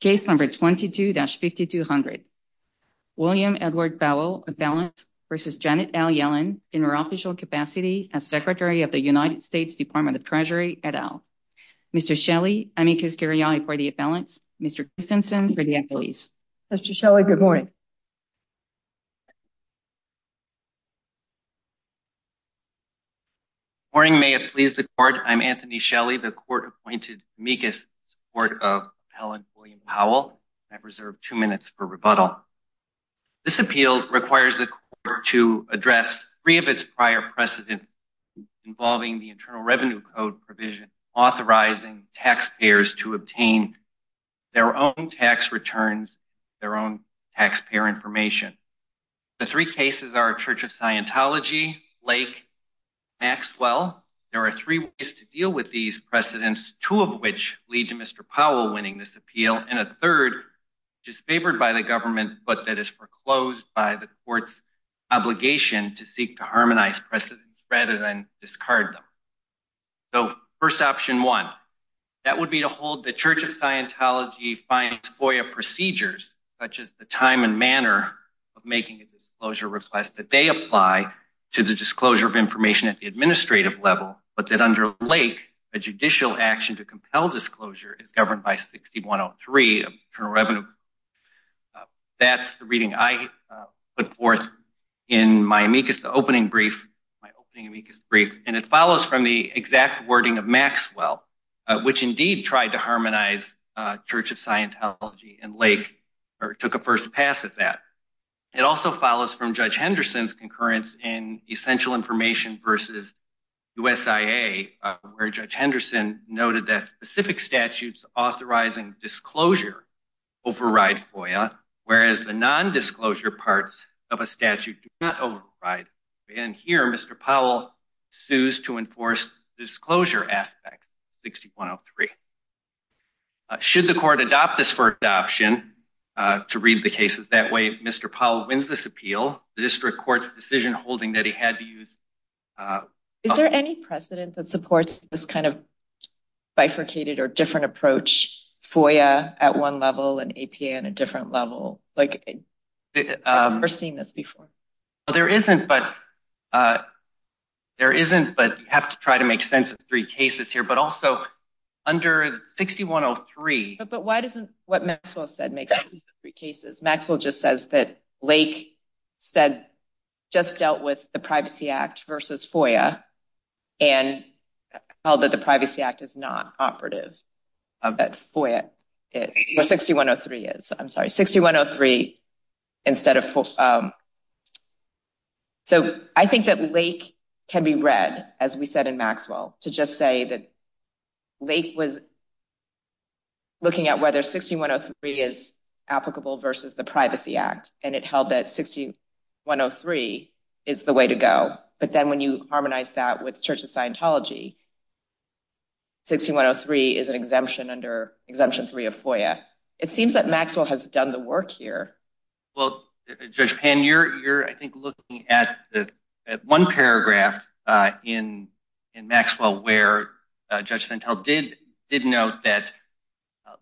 case number 22-5200 William Edward Powell appellant versus Janet L. Yellen in her official capacity as Secretary of the United States Department of Treasury et al. Mr. Shelley, amicus curiae for the appellants, Mr. Christensen for the appellees. Mr. Shelley, good morning. Good morning, may it please the court. I'm Anthony Shelley, the court-appointed amicus in support of Helen William Powell. I've reserved two minutes for rebuttal. This appeal requires the court to address three of its prior precedent involving the Internal Revenue Code provision authorizing taxpayers to obtain their own tax returns, their own taxpayer information. The three cases are Church of Scientology, Lake, Maxwell. There are three ways to deal with these precedents, two of which lead to Mr. Powell winning this appeal, and a third which is favored by the government but that is foreclosed by the court's obligation to seek to harmonize precedents rather than discard them. So first option one, that would be to hold the Church of Scientology finance FOIA procedures such as the time and manner of making a disclosure request that they apply to the disclosure of information at the administrative level but that under Lake a judicial action to compel disclosure is governed by 6103 Internal Revenue Code. That's the reading I put forth in my amicus, the opening brief, my opening amicus brief, and it follows from the exact wording of Maxwell which indeed tried to harmonize Church of Scientology and Lake or took a first pass at that. It also follows from Judge Henderson's concurrence in essential information versus USIA where Judge Henderson noted that specific statutes authorizing disclosure override FOIA whereas the non-disclosure parts of a statute do not override. And here Mr. Powell sues to enforce disclosure aspect 6103. Should the court adopt this for adoption, to read the cases that way, Mr. Powell wins this Is there any precedent that supports this kind of bifurcated or different approach, FOIA at one level and APA in a different level? Like I've never seen this before. There isn't but there isn't but you have to try to make sense of three cases here but also under 6103... But why doesn't what Maxwell said make sense of three cases? Maxwell just says that Lake said just dealt with the Privacy Act versus FOIA and held that the Privacy Act is not operative of that FOIA, or 6103 is. I'm sorry 6103 instead of... So I think that Lake can be read as we said in Maxwell to just say that Lake was looking at whether 6103 is applicable versus the Privacy Act and it held that 6103 is the way to go. But then when you harmonize that with Church of Scientology, 6103 is an exemption under Exemption 3 of FOIA. It seems that Maxwell has done the work here. Well Judge Penn, you're I think looking at one paragraph in Maxwell where Judge Sentel did note that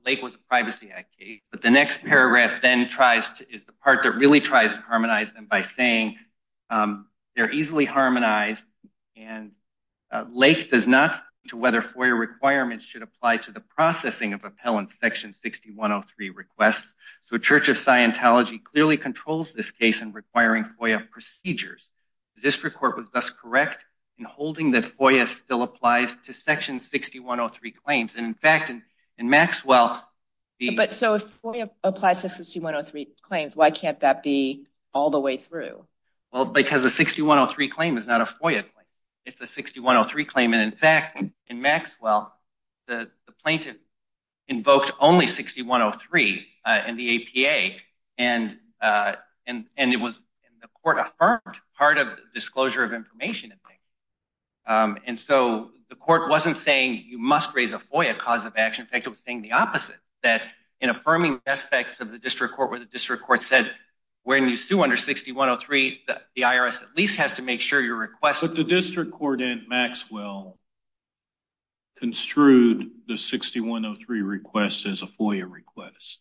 Lake was a Privacy Act case but the next paragraph then tries to, is the part that really tries to harmonize them by saying they're easily harmonized and Lake does not speak to whether FOIA requirements should apply to the processing of appellant section 6103 requests. So Church of Scientology clearly controls this case in requiring FOIA procedures. The District Court was thus correct in holding that FOIA still applies to section 6103 claims. And in fact in Maxwell... But so if FOIA applies to 6103 claims why can't that be all the way through? Well because a 6103 claim is not a FOIA claim, it's a 6103 claim. And in fact in Maxwell the plaintiff invoked only 6103 in the APA and it was and the court affirmed part of the disclosure of information. And so the court wasn't saying you must raise a FOIA cause of action, in fact it was saying the opposite. That in affirming aspects of the District Court where the District Court said when you sue under 6103 the IRS at least has to make sure your request... But the District Court in Maxwell construed the 6103 request as a FOIA request.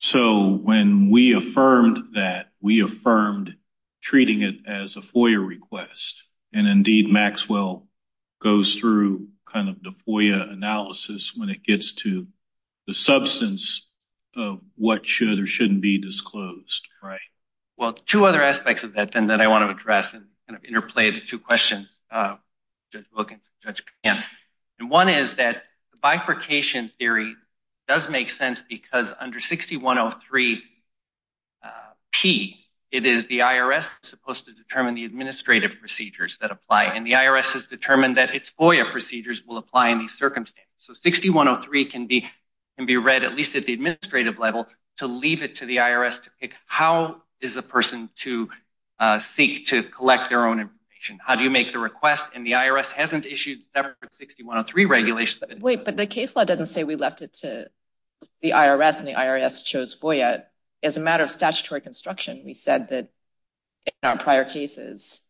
So when we affirmed that, we affirmed treating it as a FOIA request. And indeed Maxwell goes through kind of the FOIA analysis when it gets to the substance of what should or shouldn't be disclosed. Right. Well two other aspects of that then that I want to address and kind of interplay the two questions looking at Judge Kahan. And one is that bifurcation theory does make sense because under 6103 P it is the IRS supposed to determine the administrative procedures that apply. And the IRS has determined that its FOIA procedures will apply in these circumstances. So 6103 can be read at least at the administrative level to leave it to the IRS to pick how is a person to seek to collect their own information. How do you make the request? And the IRS hasn't issued separate 6103 regulations... Wait, but the case law doesn't say we left it to the IRS and the IRS chose FOIA. As a matter of statutory construction, we said that in our prior cases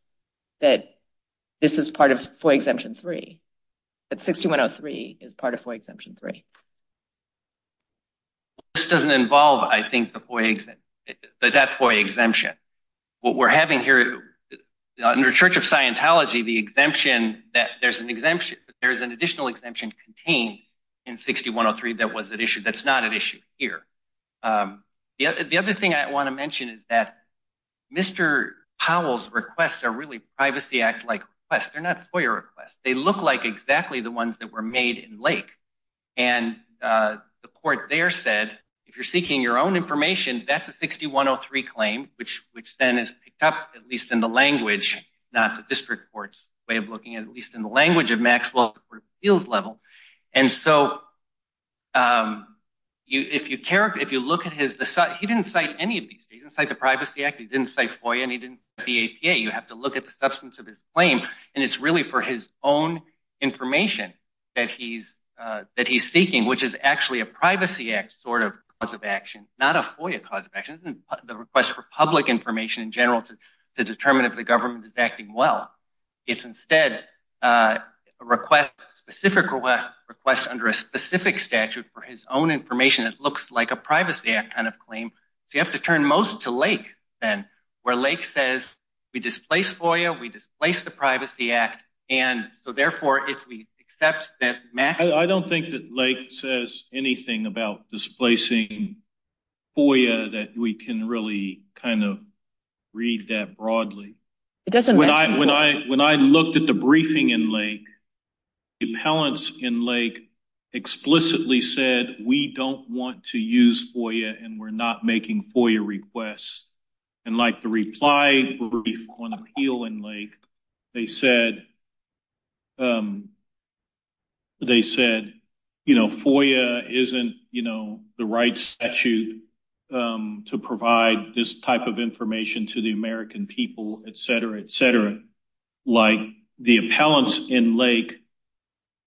that this is part of FOIA Exemption 3. That 6103 is part of FOIA Exemption 3. This doesn't involve I think the FOIA, the death FOIA exemption. What we're having here under Church of Scientology, the exemption that there's an exemption, there's an additional exemption contained in 6103 that was at issue. That's not at issue here. The other thing I want to mention is that Mr. Powell's requests are really Privacy Act-like requests. They're not FOIA requests. They look like exactly the ones that were made in Lake. And the court there said if you're seeking your own information, that's a 6103 claim, which then is picked up, at least in the language, not the district court's way of looking at it, at least in the language of Maxwell's appeals level. And so if you look at his... He didn't cite any of these. He didn't cite the Privacy Act. He didn't cite FOIA. And he didn't cite the APA. You have to look at the substance of his claim. And it's really for his own information that he's seeking, which is actually a Privacy Act sort of cause of action, not a FOIA cause of action. It isn't the request for public information in general to determine if the government is acting well. It's instead a request, a specific request under a specific statute for his own information that looks like a Privacy Act kind of claim. So you have to turn most to Lake then, where Lake says, we displace FOIA. We displace the Privacy Act. And so therefore, if we accept that Maxwell... FOIA, that we can really kind of read that broadly. When I looked at the briefing in Lake, the appellants in Lake explicitly said, we don't want to use FOIA and we're not making FOIA requests. They said, they said, FOIA isn't the right statute to provide this type of information to the American people, et cetera, et cetera. Like the appellants in Lake,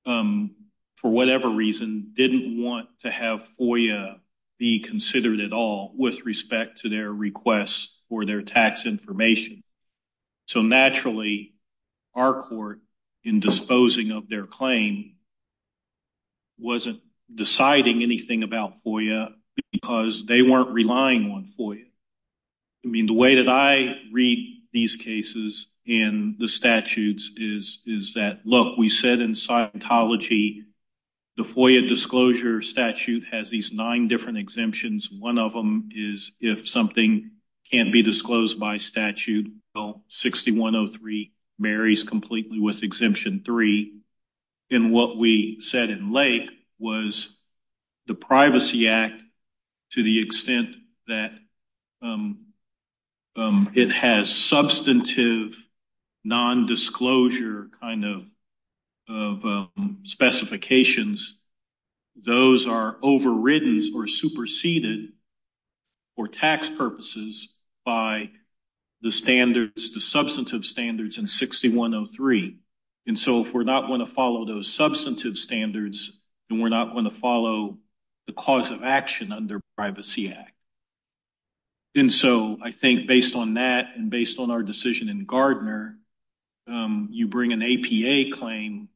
for whatever reason, didn't want to have FOIA be considered at all with respect to their requests or their tax information. So naturally our court in disposing of their claim wasn't deciding anything about FOIA because they weren't relying on FOIA. I mean, the way that I read these cases and the statutes is that, look, we said in Scientology, the FOIA disclosure statute has these nine different exemptions. One of them is if something can't be disclosed by statute, well, 6103 marries completely with Exemption 3. And what we said in Lake was the Privacy Act, to the extent that it has substantive non-disclosure kind of specifications, those are overridden or superseded for tax purposes by the standards, the substantive standards in 6103. And so if we're not going to follow those substantive standards, and we're not going to follow the cause of action under Privacy Act. And so I think based on that and based on our decision in Gardner, um, you bring an APA claim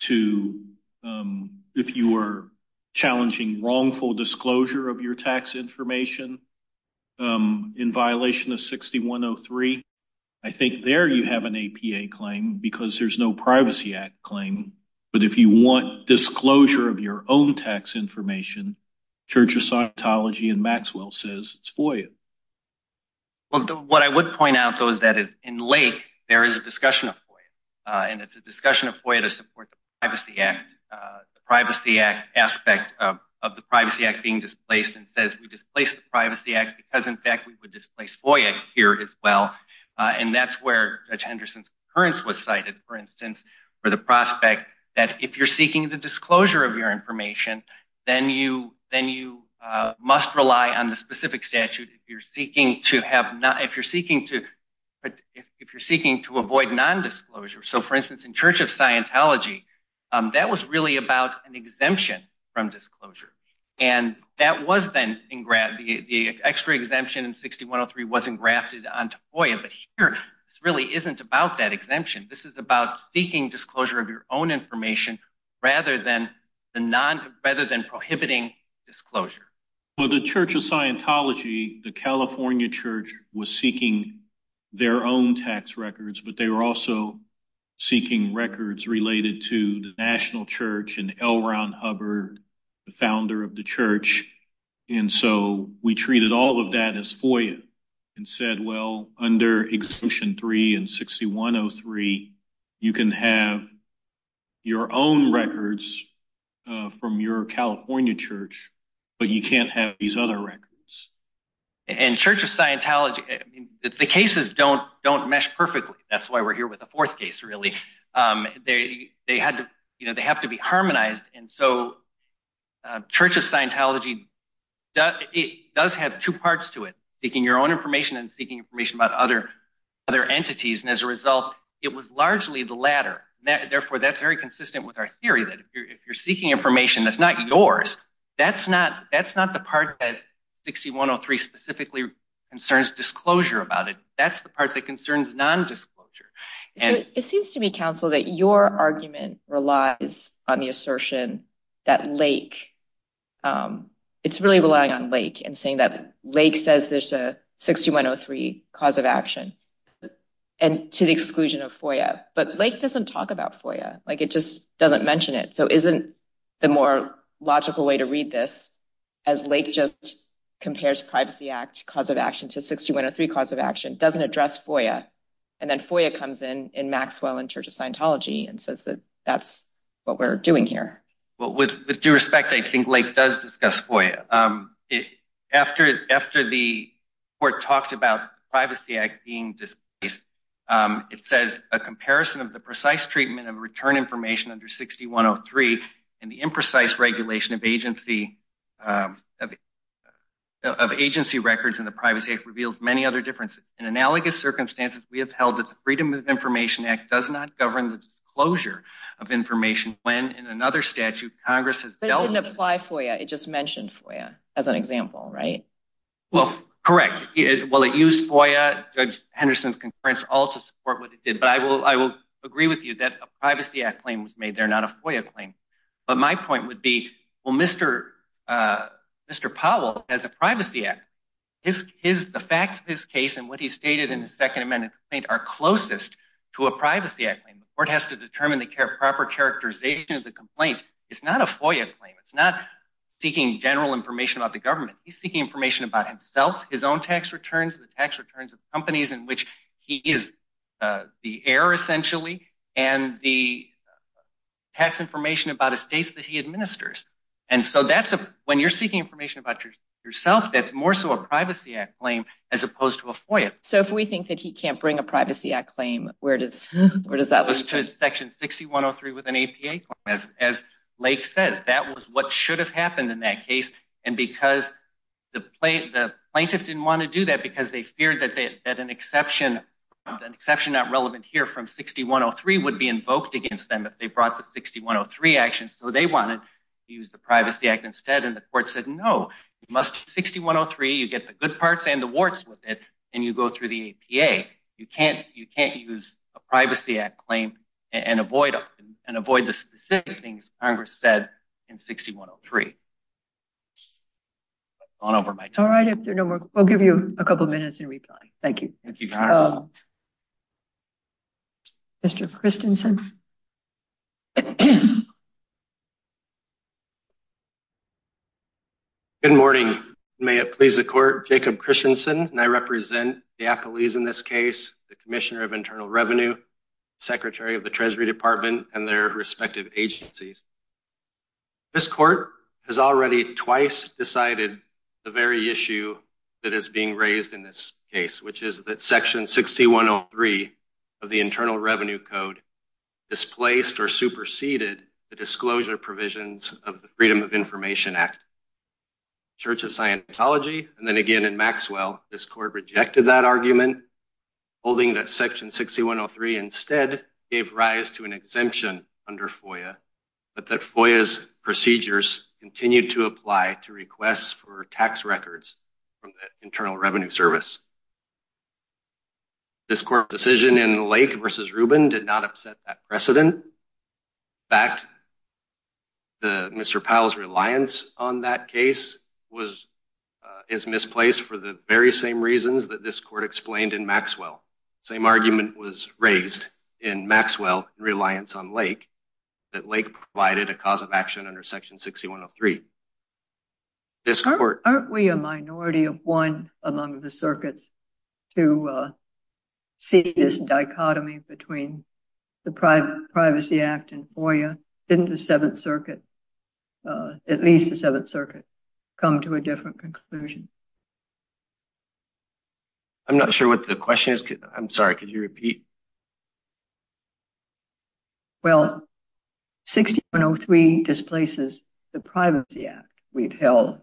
to, um, if you were challenging wrongful disclosure of your tax information, um, in violation of 6103, I think there you have an APA claim because there's no Privacy Act claim. But if you want disclosure of your own tax information, Church of Scientology and Maxwell says it's FOIA. Well, what I would point out though, is that in Lake, there is a discussion of FOIA. And it's a discussion of FOIA to support the Privacy Act, the Privacy Act aspect of the Privacy Act being displaced, and says we displaced the Privacy Act because in fact, we would displace FOIA here as well. And that's where Judge Henderson's concurrence was cited, for instance, for the prospect that if you're seeking the disclosure of your information, then you, then you must rely on the specific statute. If you're seeking to have not, if you're seeking to, but if you're seeking to avoid non-disclosure, so for instance, in Church of Scientology, that was really about an exemption from disclosure. And that was then engraved, the extra exemption in 6103 wasn't grafted onto FOIA. But here, this really isn't about that exemption. This is about seeking disclosure of your own information, rather than the non, rather than prohibiting disclosure. Well, the Church of Scientology, the California church was seeking their own tax records, but they were also seeking records related to the national church and L. Ron Hubbard, the founder of the church. And so we treated all of that as FOIA, and said, well, under Exemption 3 and 6103, you can have your own records from your California church, but you can't have these other records. And Church of Scientology, the cases don't mesh perfectly. That's why we're here with the fourth case, really. They have to be harmonized. And so Church of Scientology, it does have two parts to it, seeking your own information and seeking information about other entities. And as a result, it was largely the latter. Therefore, that's very consistent with our theory that if you're seeking information that's not yours, that's not the part that 6103 specifically concerns disclosure about it. That's the part that concerns non-disclosure. It seems to me, counsel, that your argument relies on the assertion that Lake, it's really relying on Lake and saying that Lake says there's a 6103 cause of action. And to the exclusion of FOIA. But Lake doesn't talk about FOIA. It just doesn't mention it. So isn't the more logical way to read this as Lake just compares Privacy Act cause of action to 6103 cause of action, doesn't address FOIA. And then FOIA comes in in Maxwell and Church of Scientology and says that that's what we're doing here. Well, with due respect, I think Lake does discuss FOIA. It, after the court talked about Privacy Act being displaced, it says a comparison of the precise treatment of return information under 6103 and the imprecise regulation of agency records in the Privacy Act reveals many other differences. In analogous circumstances, we have held that the Freedom of Information Act does not govern the disclosure of information when in another statute, Congress has dealt with- It didn't apply FOIA. It just mentioned FOIA as an example, right? Well, correct. Well, it used FOIA, Judge Henderson's concurrence, all to support what it did. But I will agree with you that a Privacy Act claim was made there, not a FOIA claim. But my point would be, well, Mr. Powell has a Privacy Act. The facts of his case and what he stated in the Second Amendment complaint are closest to a Privacy Act claim. The court has to determine the proper characterization of the complaint. It's not a FOIA claim. It's not seeking general information about the government. He's seeking information about himself, his own tax returns, the tax returns of companies in which he is the heir, essentially, and the tax information about estates that he administers. And so when you're seeking information about yourself, that's more so a Privacy Act claim as opposed to a FOIA. So if we think that he can't bring a Privacy Act claim, where does that- It goes to Section 6103 with an APA claim. As Lake says, that was what should have happened in that case. And because the plaintiff didn't want to do that because they feared that an exception not relevant here from 6103 would be invoked against them if they brought the 6103 action. So they wanted to use the Privacy Act instead. And the court said, no, you must use 6103. You get the good parts and the warts with it. And you go through the APA. You can't use a Privacy Act claim and avoid the specific things Congress said in 6103. I've gone over my time. All right, if there are no more, we'll give you a couple of minutes in reply. Thank you. Thank you, Your Honor. Mr. Christensen. Good morning. May it please the court, Jacob Christensen, and I represent the appellees in this case, the Commissioner of Internal Revenue, Secretary of the Treasury Department, and their respective agencies. This court has already twice decided the very issue that is being raised in this case, which is that Section 6103 of the Internal Revenue Code displaced or superseded the disclosure provisions of the Freedom of Information Act. Church of Scientology, and then again in Maxwell, this court rejected that argument, holding that Section 6103 instead gave rise to an exemption under FOIA, but that FOIA's procedures continued to apply to requests for tax records from the Internal Revenue Service. This court decision in Lake versus Rubin did not upset that precedent. In fact, Mr. Powell's reliance on that case is misplaced for the very same reasons that this court explained in Maxwell. Same argument was raised in Maxwell in reliance on Lake, that Lake provided a cause of action under Section 6103. Aren't we a minority of one among the circuits to see this dichotomy between the Privacy Act and FOIA? Didn't the Seventh Circuit, at least the Seventh Circuit, come to a different conclusion? I'm not sure what the question is. I'm sorry, could you repeat? Well, 6103 displaces the Privacy Act we've held,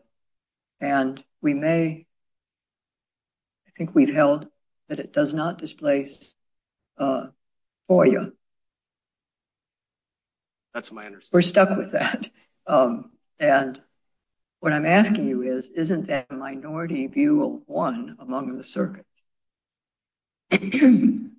and we may, I think we've held that it does not displace FOIA. We're stuck with that. And what I'm asking you is, isn't that a minority view of one among the circuits, particularly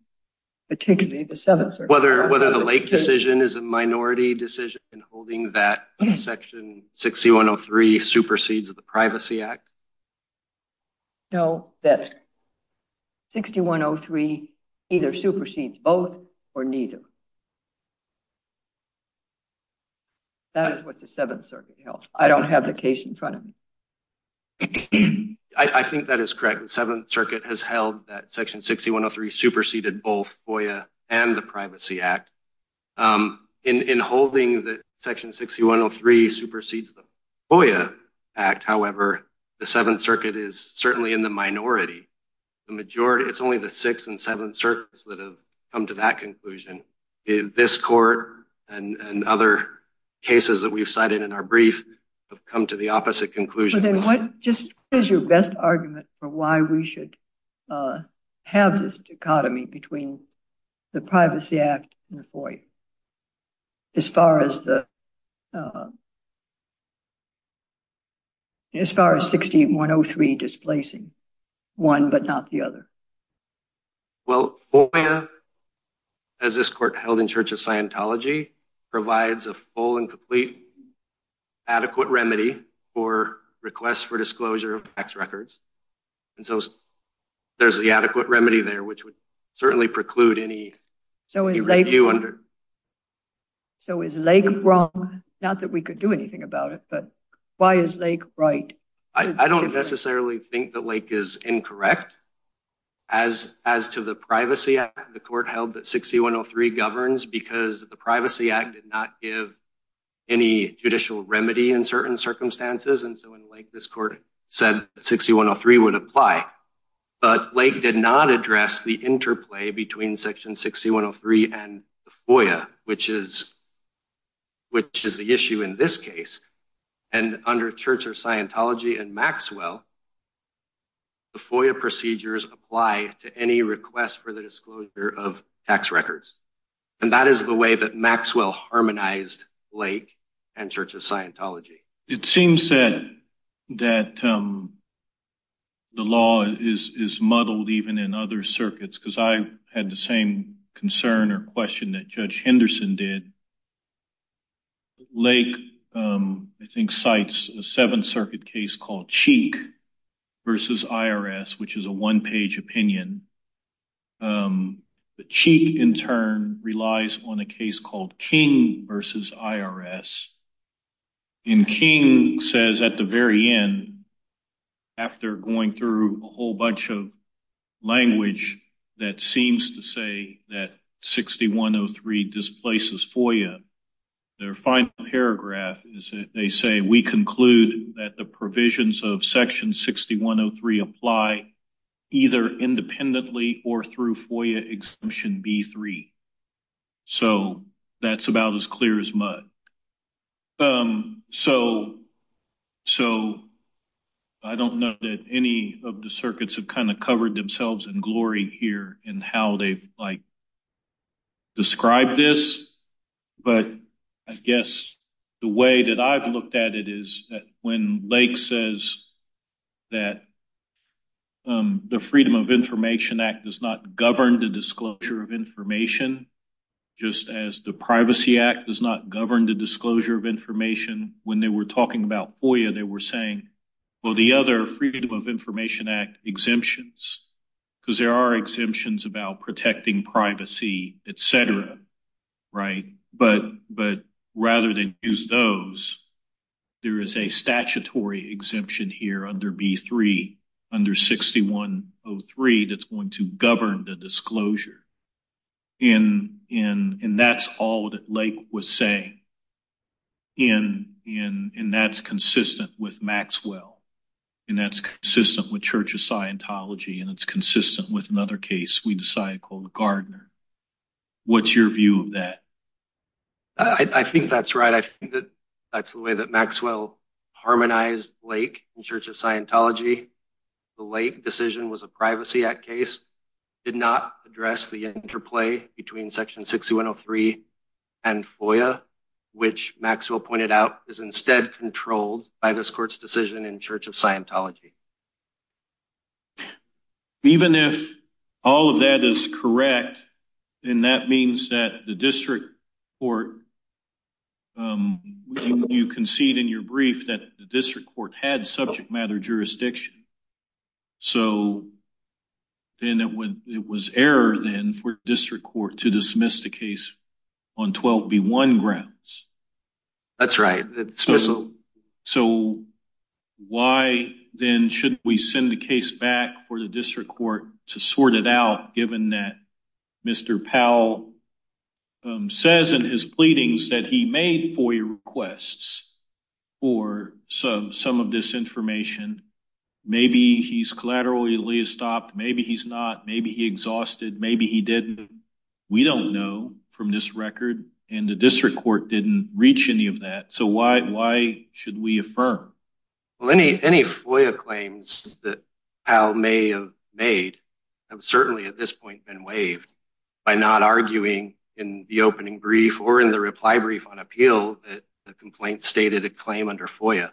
the Seventh Circuit? Whether the Lake decision is a minority decision in holding that Section 6103 supersedes the Privacy Act? No, that 6103 either supersedes both or neither. That is what the Seventh Circuit held. I don't have the case in front of me. I think that is correct. The Seventh Circuit has held that Section 6103 superseded both FOIA and the Privacy Act. In holding that Section 6103 supersedes the FOIA Act, however, the Seventh Circuit is certainly in the minority. It's only the Sixth and Seventh Circuits that have come to that conclusion. This court and other cases that we've cited in our brief have come to the opposite conclusion. Just what is your best argument for why we should have this dichotomy between the Privacy Act and FOIA as far as 6103 displacing one but not the other? Well, FOIA, as this court held in Church of Scientology, provides a full and complete adequate remedy for requests for disclosure of tax records. And so there's the adequate remedy there, which would certainly preclude any review under... So is Lake wrong? Not that we could do anything about it, but why is Lake right? I don't necessarily think that Lake is incorrect. As to the Privacy Act, the court held that 6103 governs because the Privacy Act did not give any judicial remedy in certain circumstances. And so in Lake, this court said 6103 would apply. But Lake did not address the interplay between Section 6103 and FOIA, which is the issue in this case. And under Church of Scientology and Maxwell, the FOIA procedures apply to any request for the disclosure of tax records. And that is the way that Maxwell harmonized Lake and Church of Scientology. It seems that the law is muddled even in other circuits, because I had the same concern or question that Judge Henderson did. Lake, I think, cites a Seventh Circuit case called Cheek versus IRS, which is a one-page opinion. But Cheek, in turn, relies on a case called King versus IRS. And King says at the very end, after going through a whole bunch of language that seems to say that 6103 displaces FOIA, their final paragraph is that they say, we conclude that the provisions of Section 6103 apply either independently or through FOIA Exemption B-3. So that's about as clear as mud. So I don't know that any of the circuits have kind of covered themselves in glory here in how they've described this. But I guess the way that I've looked at it is that when Lake says that the Freedom of Information Act does not govern the disclosure of information, just as the Privacy Act does not govern the disclosure of information. When they were talking about FOIA, they were saying, well, the other Freedom of Information Act exemptions, because there are exemptions about protecting privacy, et cetera, right? But rather than use those, there is a statutory exemption here under B-3, under 6103, that's going to govern the disclosure. And that's all that Lake was saying. And that's consistent with Maxwell. And that's consistent with Church of Scientology. And it's consistent with another case we decided called Gardner. What's your view of that? I think that's right. I think that that's the way that Maxwell harmonized Lake in Church of Scientology. The Lake decision was a Privacy Act case, did not address the interplay between section 6103 and FOIA, which Maxwell pointed out is instead controlled by this court's decision in Church of Scientology. Even if all of that is correct, then that means that the district court, you concede in your brief that the district court had subject matter jurisdiction. So then it was error then for district court to dismiss the case on 12B-1 grounds. That's right. So why then should we send the case back for the district court to sort it out, given that Mr. Powell says in his pleadings that he made FOIA requests for some of this information? Maybe he's collaterally stopped. Maybe he's not. Maybe he exhausted. Maybe he didn't. We don't know from this record. And the district court didn't reach any of that. So why should we affirm? Well, any FOIA claims that Powell may have made, have certainly at this point been waived by not arguing in the opening brief or in the reply brief on appeal that the complaint stated a claim under FOIA.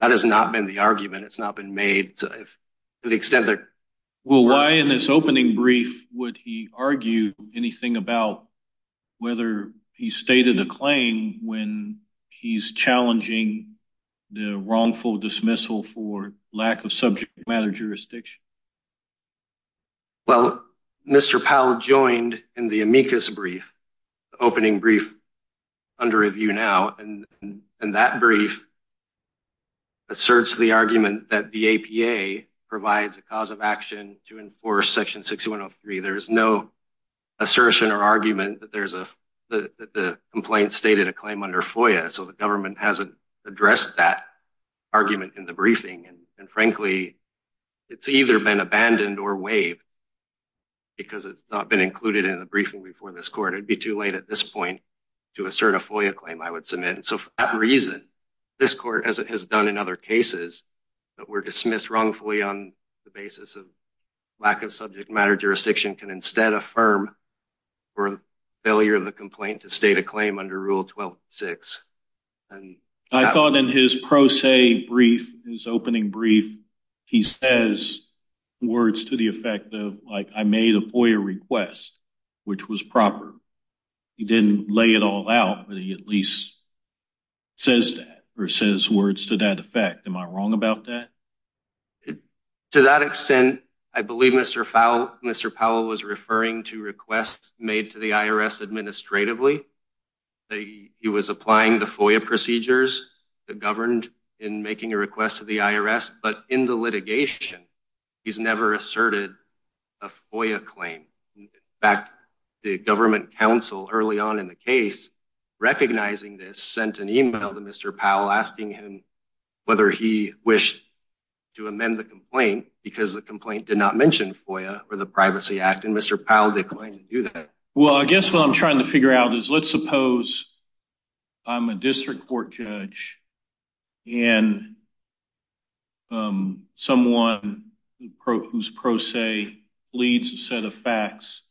That has not been the argument. It's not been made to the extent that- Well, why in this opening brief would he argue anything about whether he stated a claim when he's challenging the wrongful dismissal for lack of subject matter jurisdiction? Well, Mr. Powell joined in the amicus brief, the opening brief under review now. And that brief asserts the argument that the APA provides a cause of action to enforce section 6103. There is no assertion or argument that the complaint stated a claim under FOIA. So the government hasn't addressed that argument in the briefing. And frankly, it's either been abandoned or waived because it's not been included in the briefing before this court. It'd be too late at this point to assert a FOIA claim, I would submit. And so for that reason, this court, as it has done in other cases, that were dismissed wrongfully on the basis of lack of subject matter jurisdiction can instead affirm for failure of the complaint to state a claim under Rule 12.6. And I thought in his pro se brief, his opening brief, he says words to the effect of like, I made a FOIA request, which was proper. He didn't lay it all out, but he at least says that or says words to that effect. Am I wrong about that? To that extent, I believe Mr. Powell was referring to requests made to the IRS administratively. He was applying the FOIA procedures that governed in making a request to the IRS. But in the litigation, he's never asserted a FOIA claim. In fact, the government counsel early on in the case, recognizing this, sent an email to Mr. Powell asking him whether he wished to amend the complaint because the complaint did not mention FOIA or the Privacy Act. And Mr. Powell declined to do that. Well, I guess what I'm trying to figure out is let's suppose I'm a district court judge and someone whose pro se leads a set of facts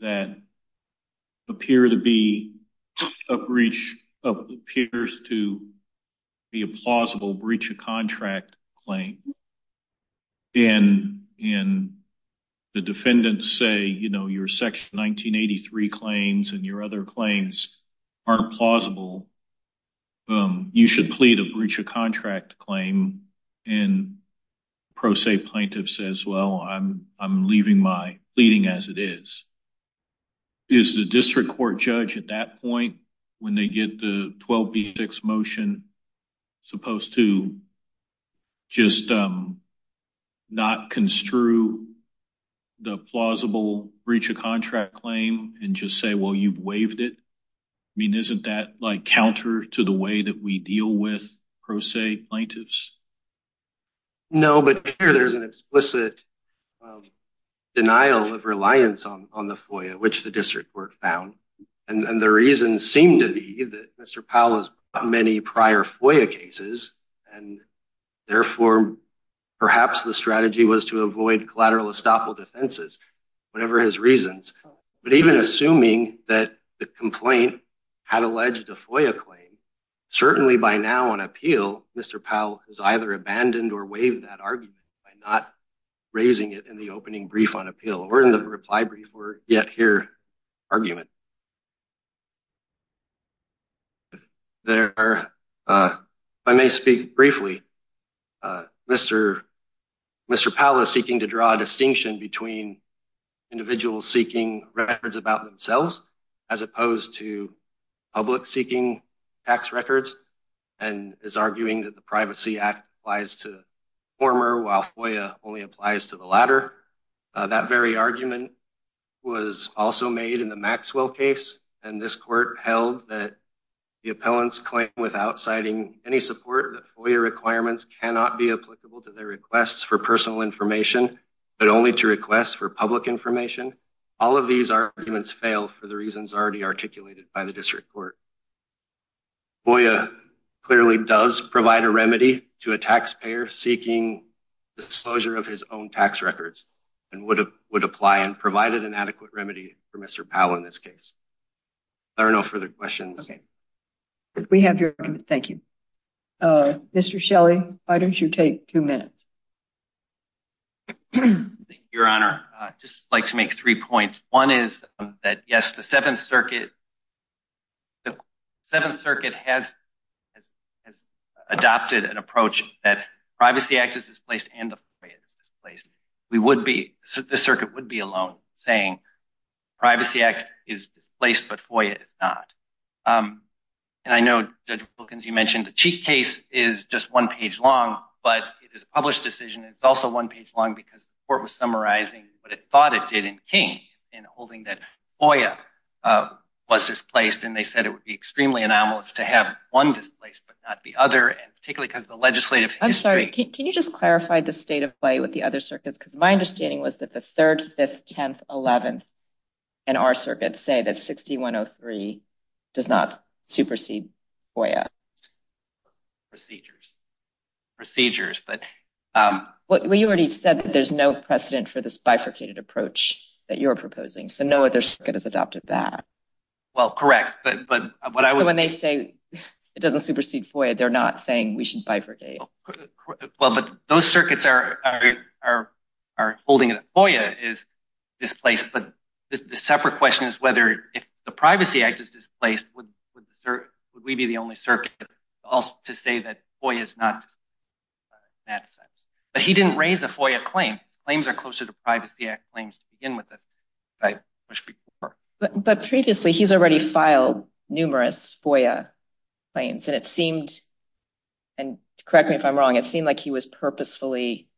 that appear to be a breach, appears to be a plausible breach of contract claim. And the defendants say, your Section 1983 claims and your other claims aren't plausible. You should plead a breach of contract claim. And pro se plaintiff says, well, I'm leaving my pleading as it is. Is the district court judge at that point when they get the 12B6 motion supposed to just not construe the plausible breach of contract claim and just say, well, you've waived it? I mean, isn't that like counter to the way that we deal with pro se plaintiffs? No, but here there's an explicit denial of reliance on the FOIA, which the district court found. And the reason seemed to be that Mr. Powell has many prior FOIA cases. And therefore, perhaps the strategy was to avoid collateral estoppel defenses, whatever his reasons. But even assuming that the complaint had alleged a FOIA claim, certainly by now on appeal, Mr. Powell has either abandoned or waived that argument by not raising it in the opening brief on appeal or in the reply brief or yet here argument. There are, if I may speak briefly, Mr. Powell is seeking to draw a distinction between individuals seeking records about themselves, as opposed to public seeking tax records and is arguing that the Privacy Act applies to the former while FOIA only applies to the latter. That very argument was also made in the Maxwell case. And this court held that the appellants claim without citing any support FOIA requirements cannot be applicable to their requests for personal information, but only to request for public information. All of these arguments fail for the reasons already articulated by the district court. FOIA clearly does provide a remedy to a taxpayer seeking disclosure of his own tax records and would apply and provided an adequate remedy for Mr. Powell in this case. There are no further questions. Okay, we have your, thank you. Mr. Shelley, why don't you take two minutes? Your Honor, I'd just like to make three points. One is that yes, the Seventh Circuit, the Seventh Circuit has adopted an approach that Privacy Act is displaced and the FOIA is displaced. We would be, the circuit would be alone saying Privacy Act is displaced, but FOIA is not. And I know Judge Wilkins, you mentioned the Cheek case is just one page long, but it is a published decision and it's also one page long because the court was summarizing what it thought it did in King in holding that FOIA was displaced and they said it would be extremely anomalous to have one displaced, but not the other. And particularly because the legislative history- I'm sorry, can you just clarify the state of play with the other circuits? Because my understanding was that the Third, Fifth, Tenth, Eleventh in our circuit say that 6103 does not supersede FOIA. Procedures, procedures, but- You already said that there's no precedent for this bifurcated approach that you're proposing, so no other circuit has adopted that. Well, correct, but what I was- So when they say it doesn't supersede FOIA, they're not saying we should bifurcate. Well, but those circuits are holding that FOIA is displaced, but the separate question is whether if the Privacy Act is displaced, would we be the only circuit to say that FOIA is not displaced in that sense? But he didn't raise a FOIA claim. Claims are closer to Privacy Act claims to begin with, as I pushed before. But previously, he's already filed numerous FOIA claims, and it seemed- and correct me if I'm wrong, it seemed like he was purposefully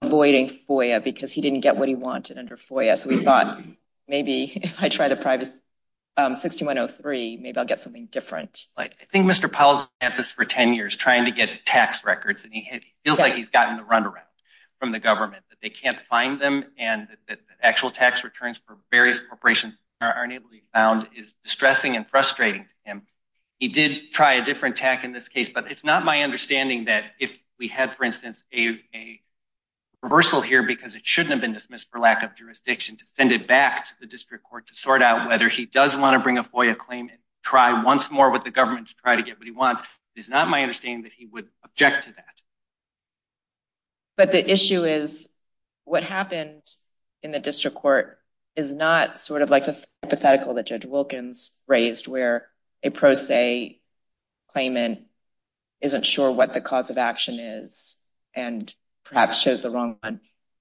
avoiding FOIA because he didn't get what he wanted under FOIA. So we thought maybe if I try the Privacy- 6103, maybe I'll get something different. I think Mr. Powell's been at this for 10 years, trying to get tax records, and he feels like he's gotten the runaround from the government that they can't find them and that actual tax returns for various corporations aren't able to be found is distressing and frustrating to him. He did try a different tack in this case, but it's not my understanding that if we had, for instance, a reversal here because it shouldn't have been dismissed for lack of jurisdiction, to send it back to the district court to sort out whether he does want to bring a FOIA claim and try once more with the government to try to get what he wants. It's not my understanding that he would object to that. But the issue is, what happened in the district court is not sort of like the hypothetical that Judge Wilkins raised where a pro se claimant isn't sure what the cause of action is and perhaps chose the wrong one.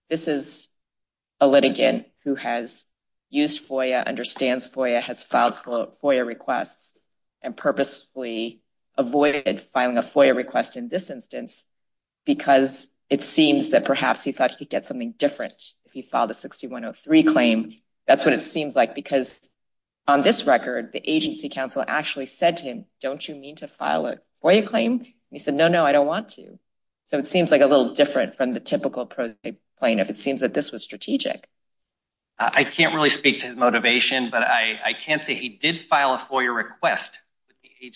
This is a litigant who has used FOIA, understands FOIA, has filed FOIA requests and purposefully avoided filing a FOIA request in this instance because it seems that perhaps he thought he could get something different if he filed a 6103 claim. That's what it seems like because on this record, the agency counsel actually said to him, don't you mean to file a FOIA claim? And he said, no, no, I don't want to. So it seems like a little different from the typical pro se plaintiff. It seems that this was strategic. I can't really speak to his motivation, but I can't say he did file a FOIA request. He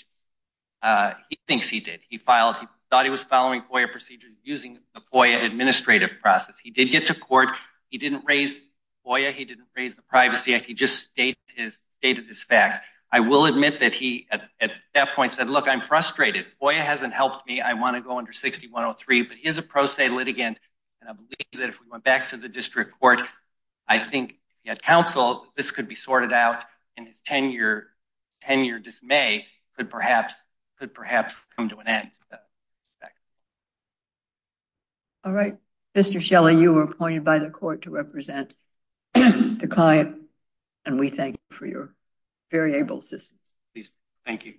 thinks he did. He thought he was following FOIA procedures using the FOIA administrative process. He did get to court. He didn't raise FOIA. He didn't raise the Privacy Act. He just stated his facts. I will admit that he at that point said, look, I'm frustrated. FOIA hasn't helped me. I want to go under 6103. But he is a pro se litigant and I believe that if we went back to the district court, I think he had counsel, this could be sorted out in his 10 year dismay could perhaps come to an end. All right, Mr. Shelley, you were appointed by the court to represent the client and we thank you for your very able assistance. Please, thank you.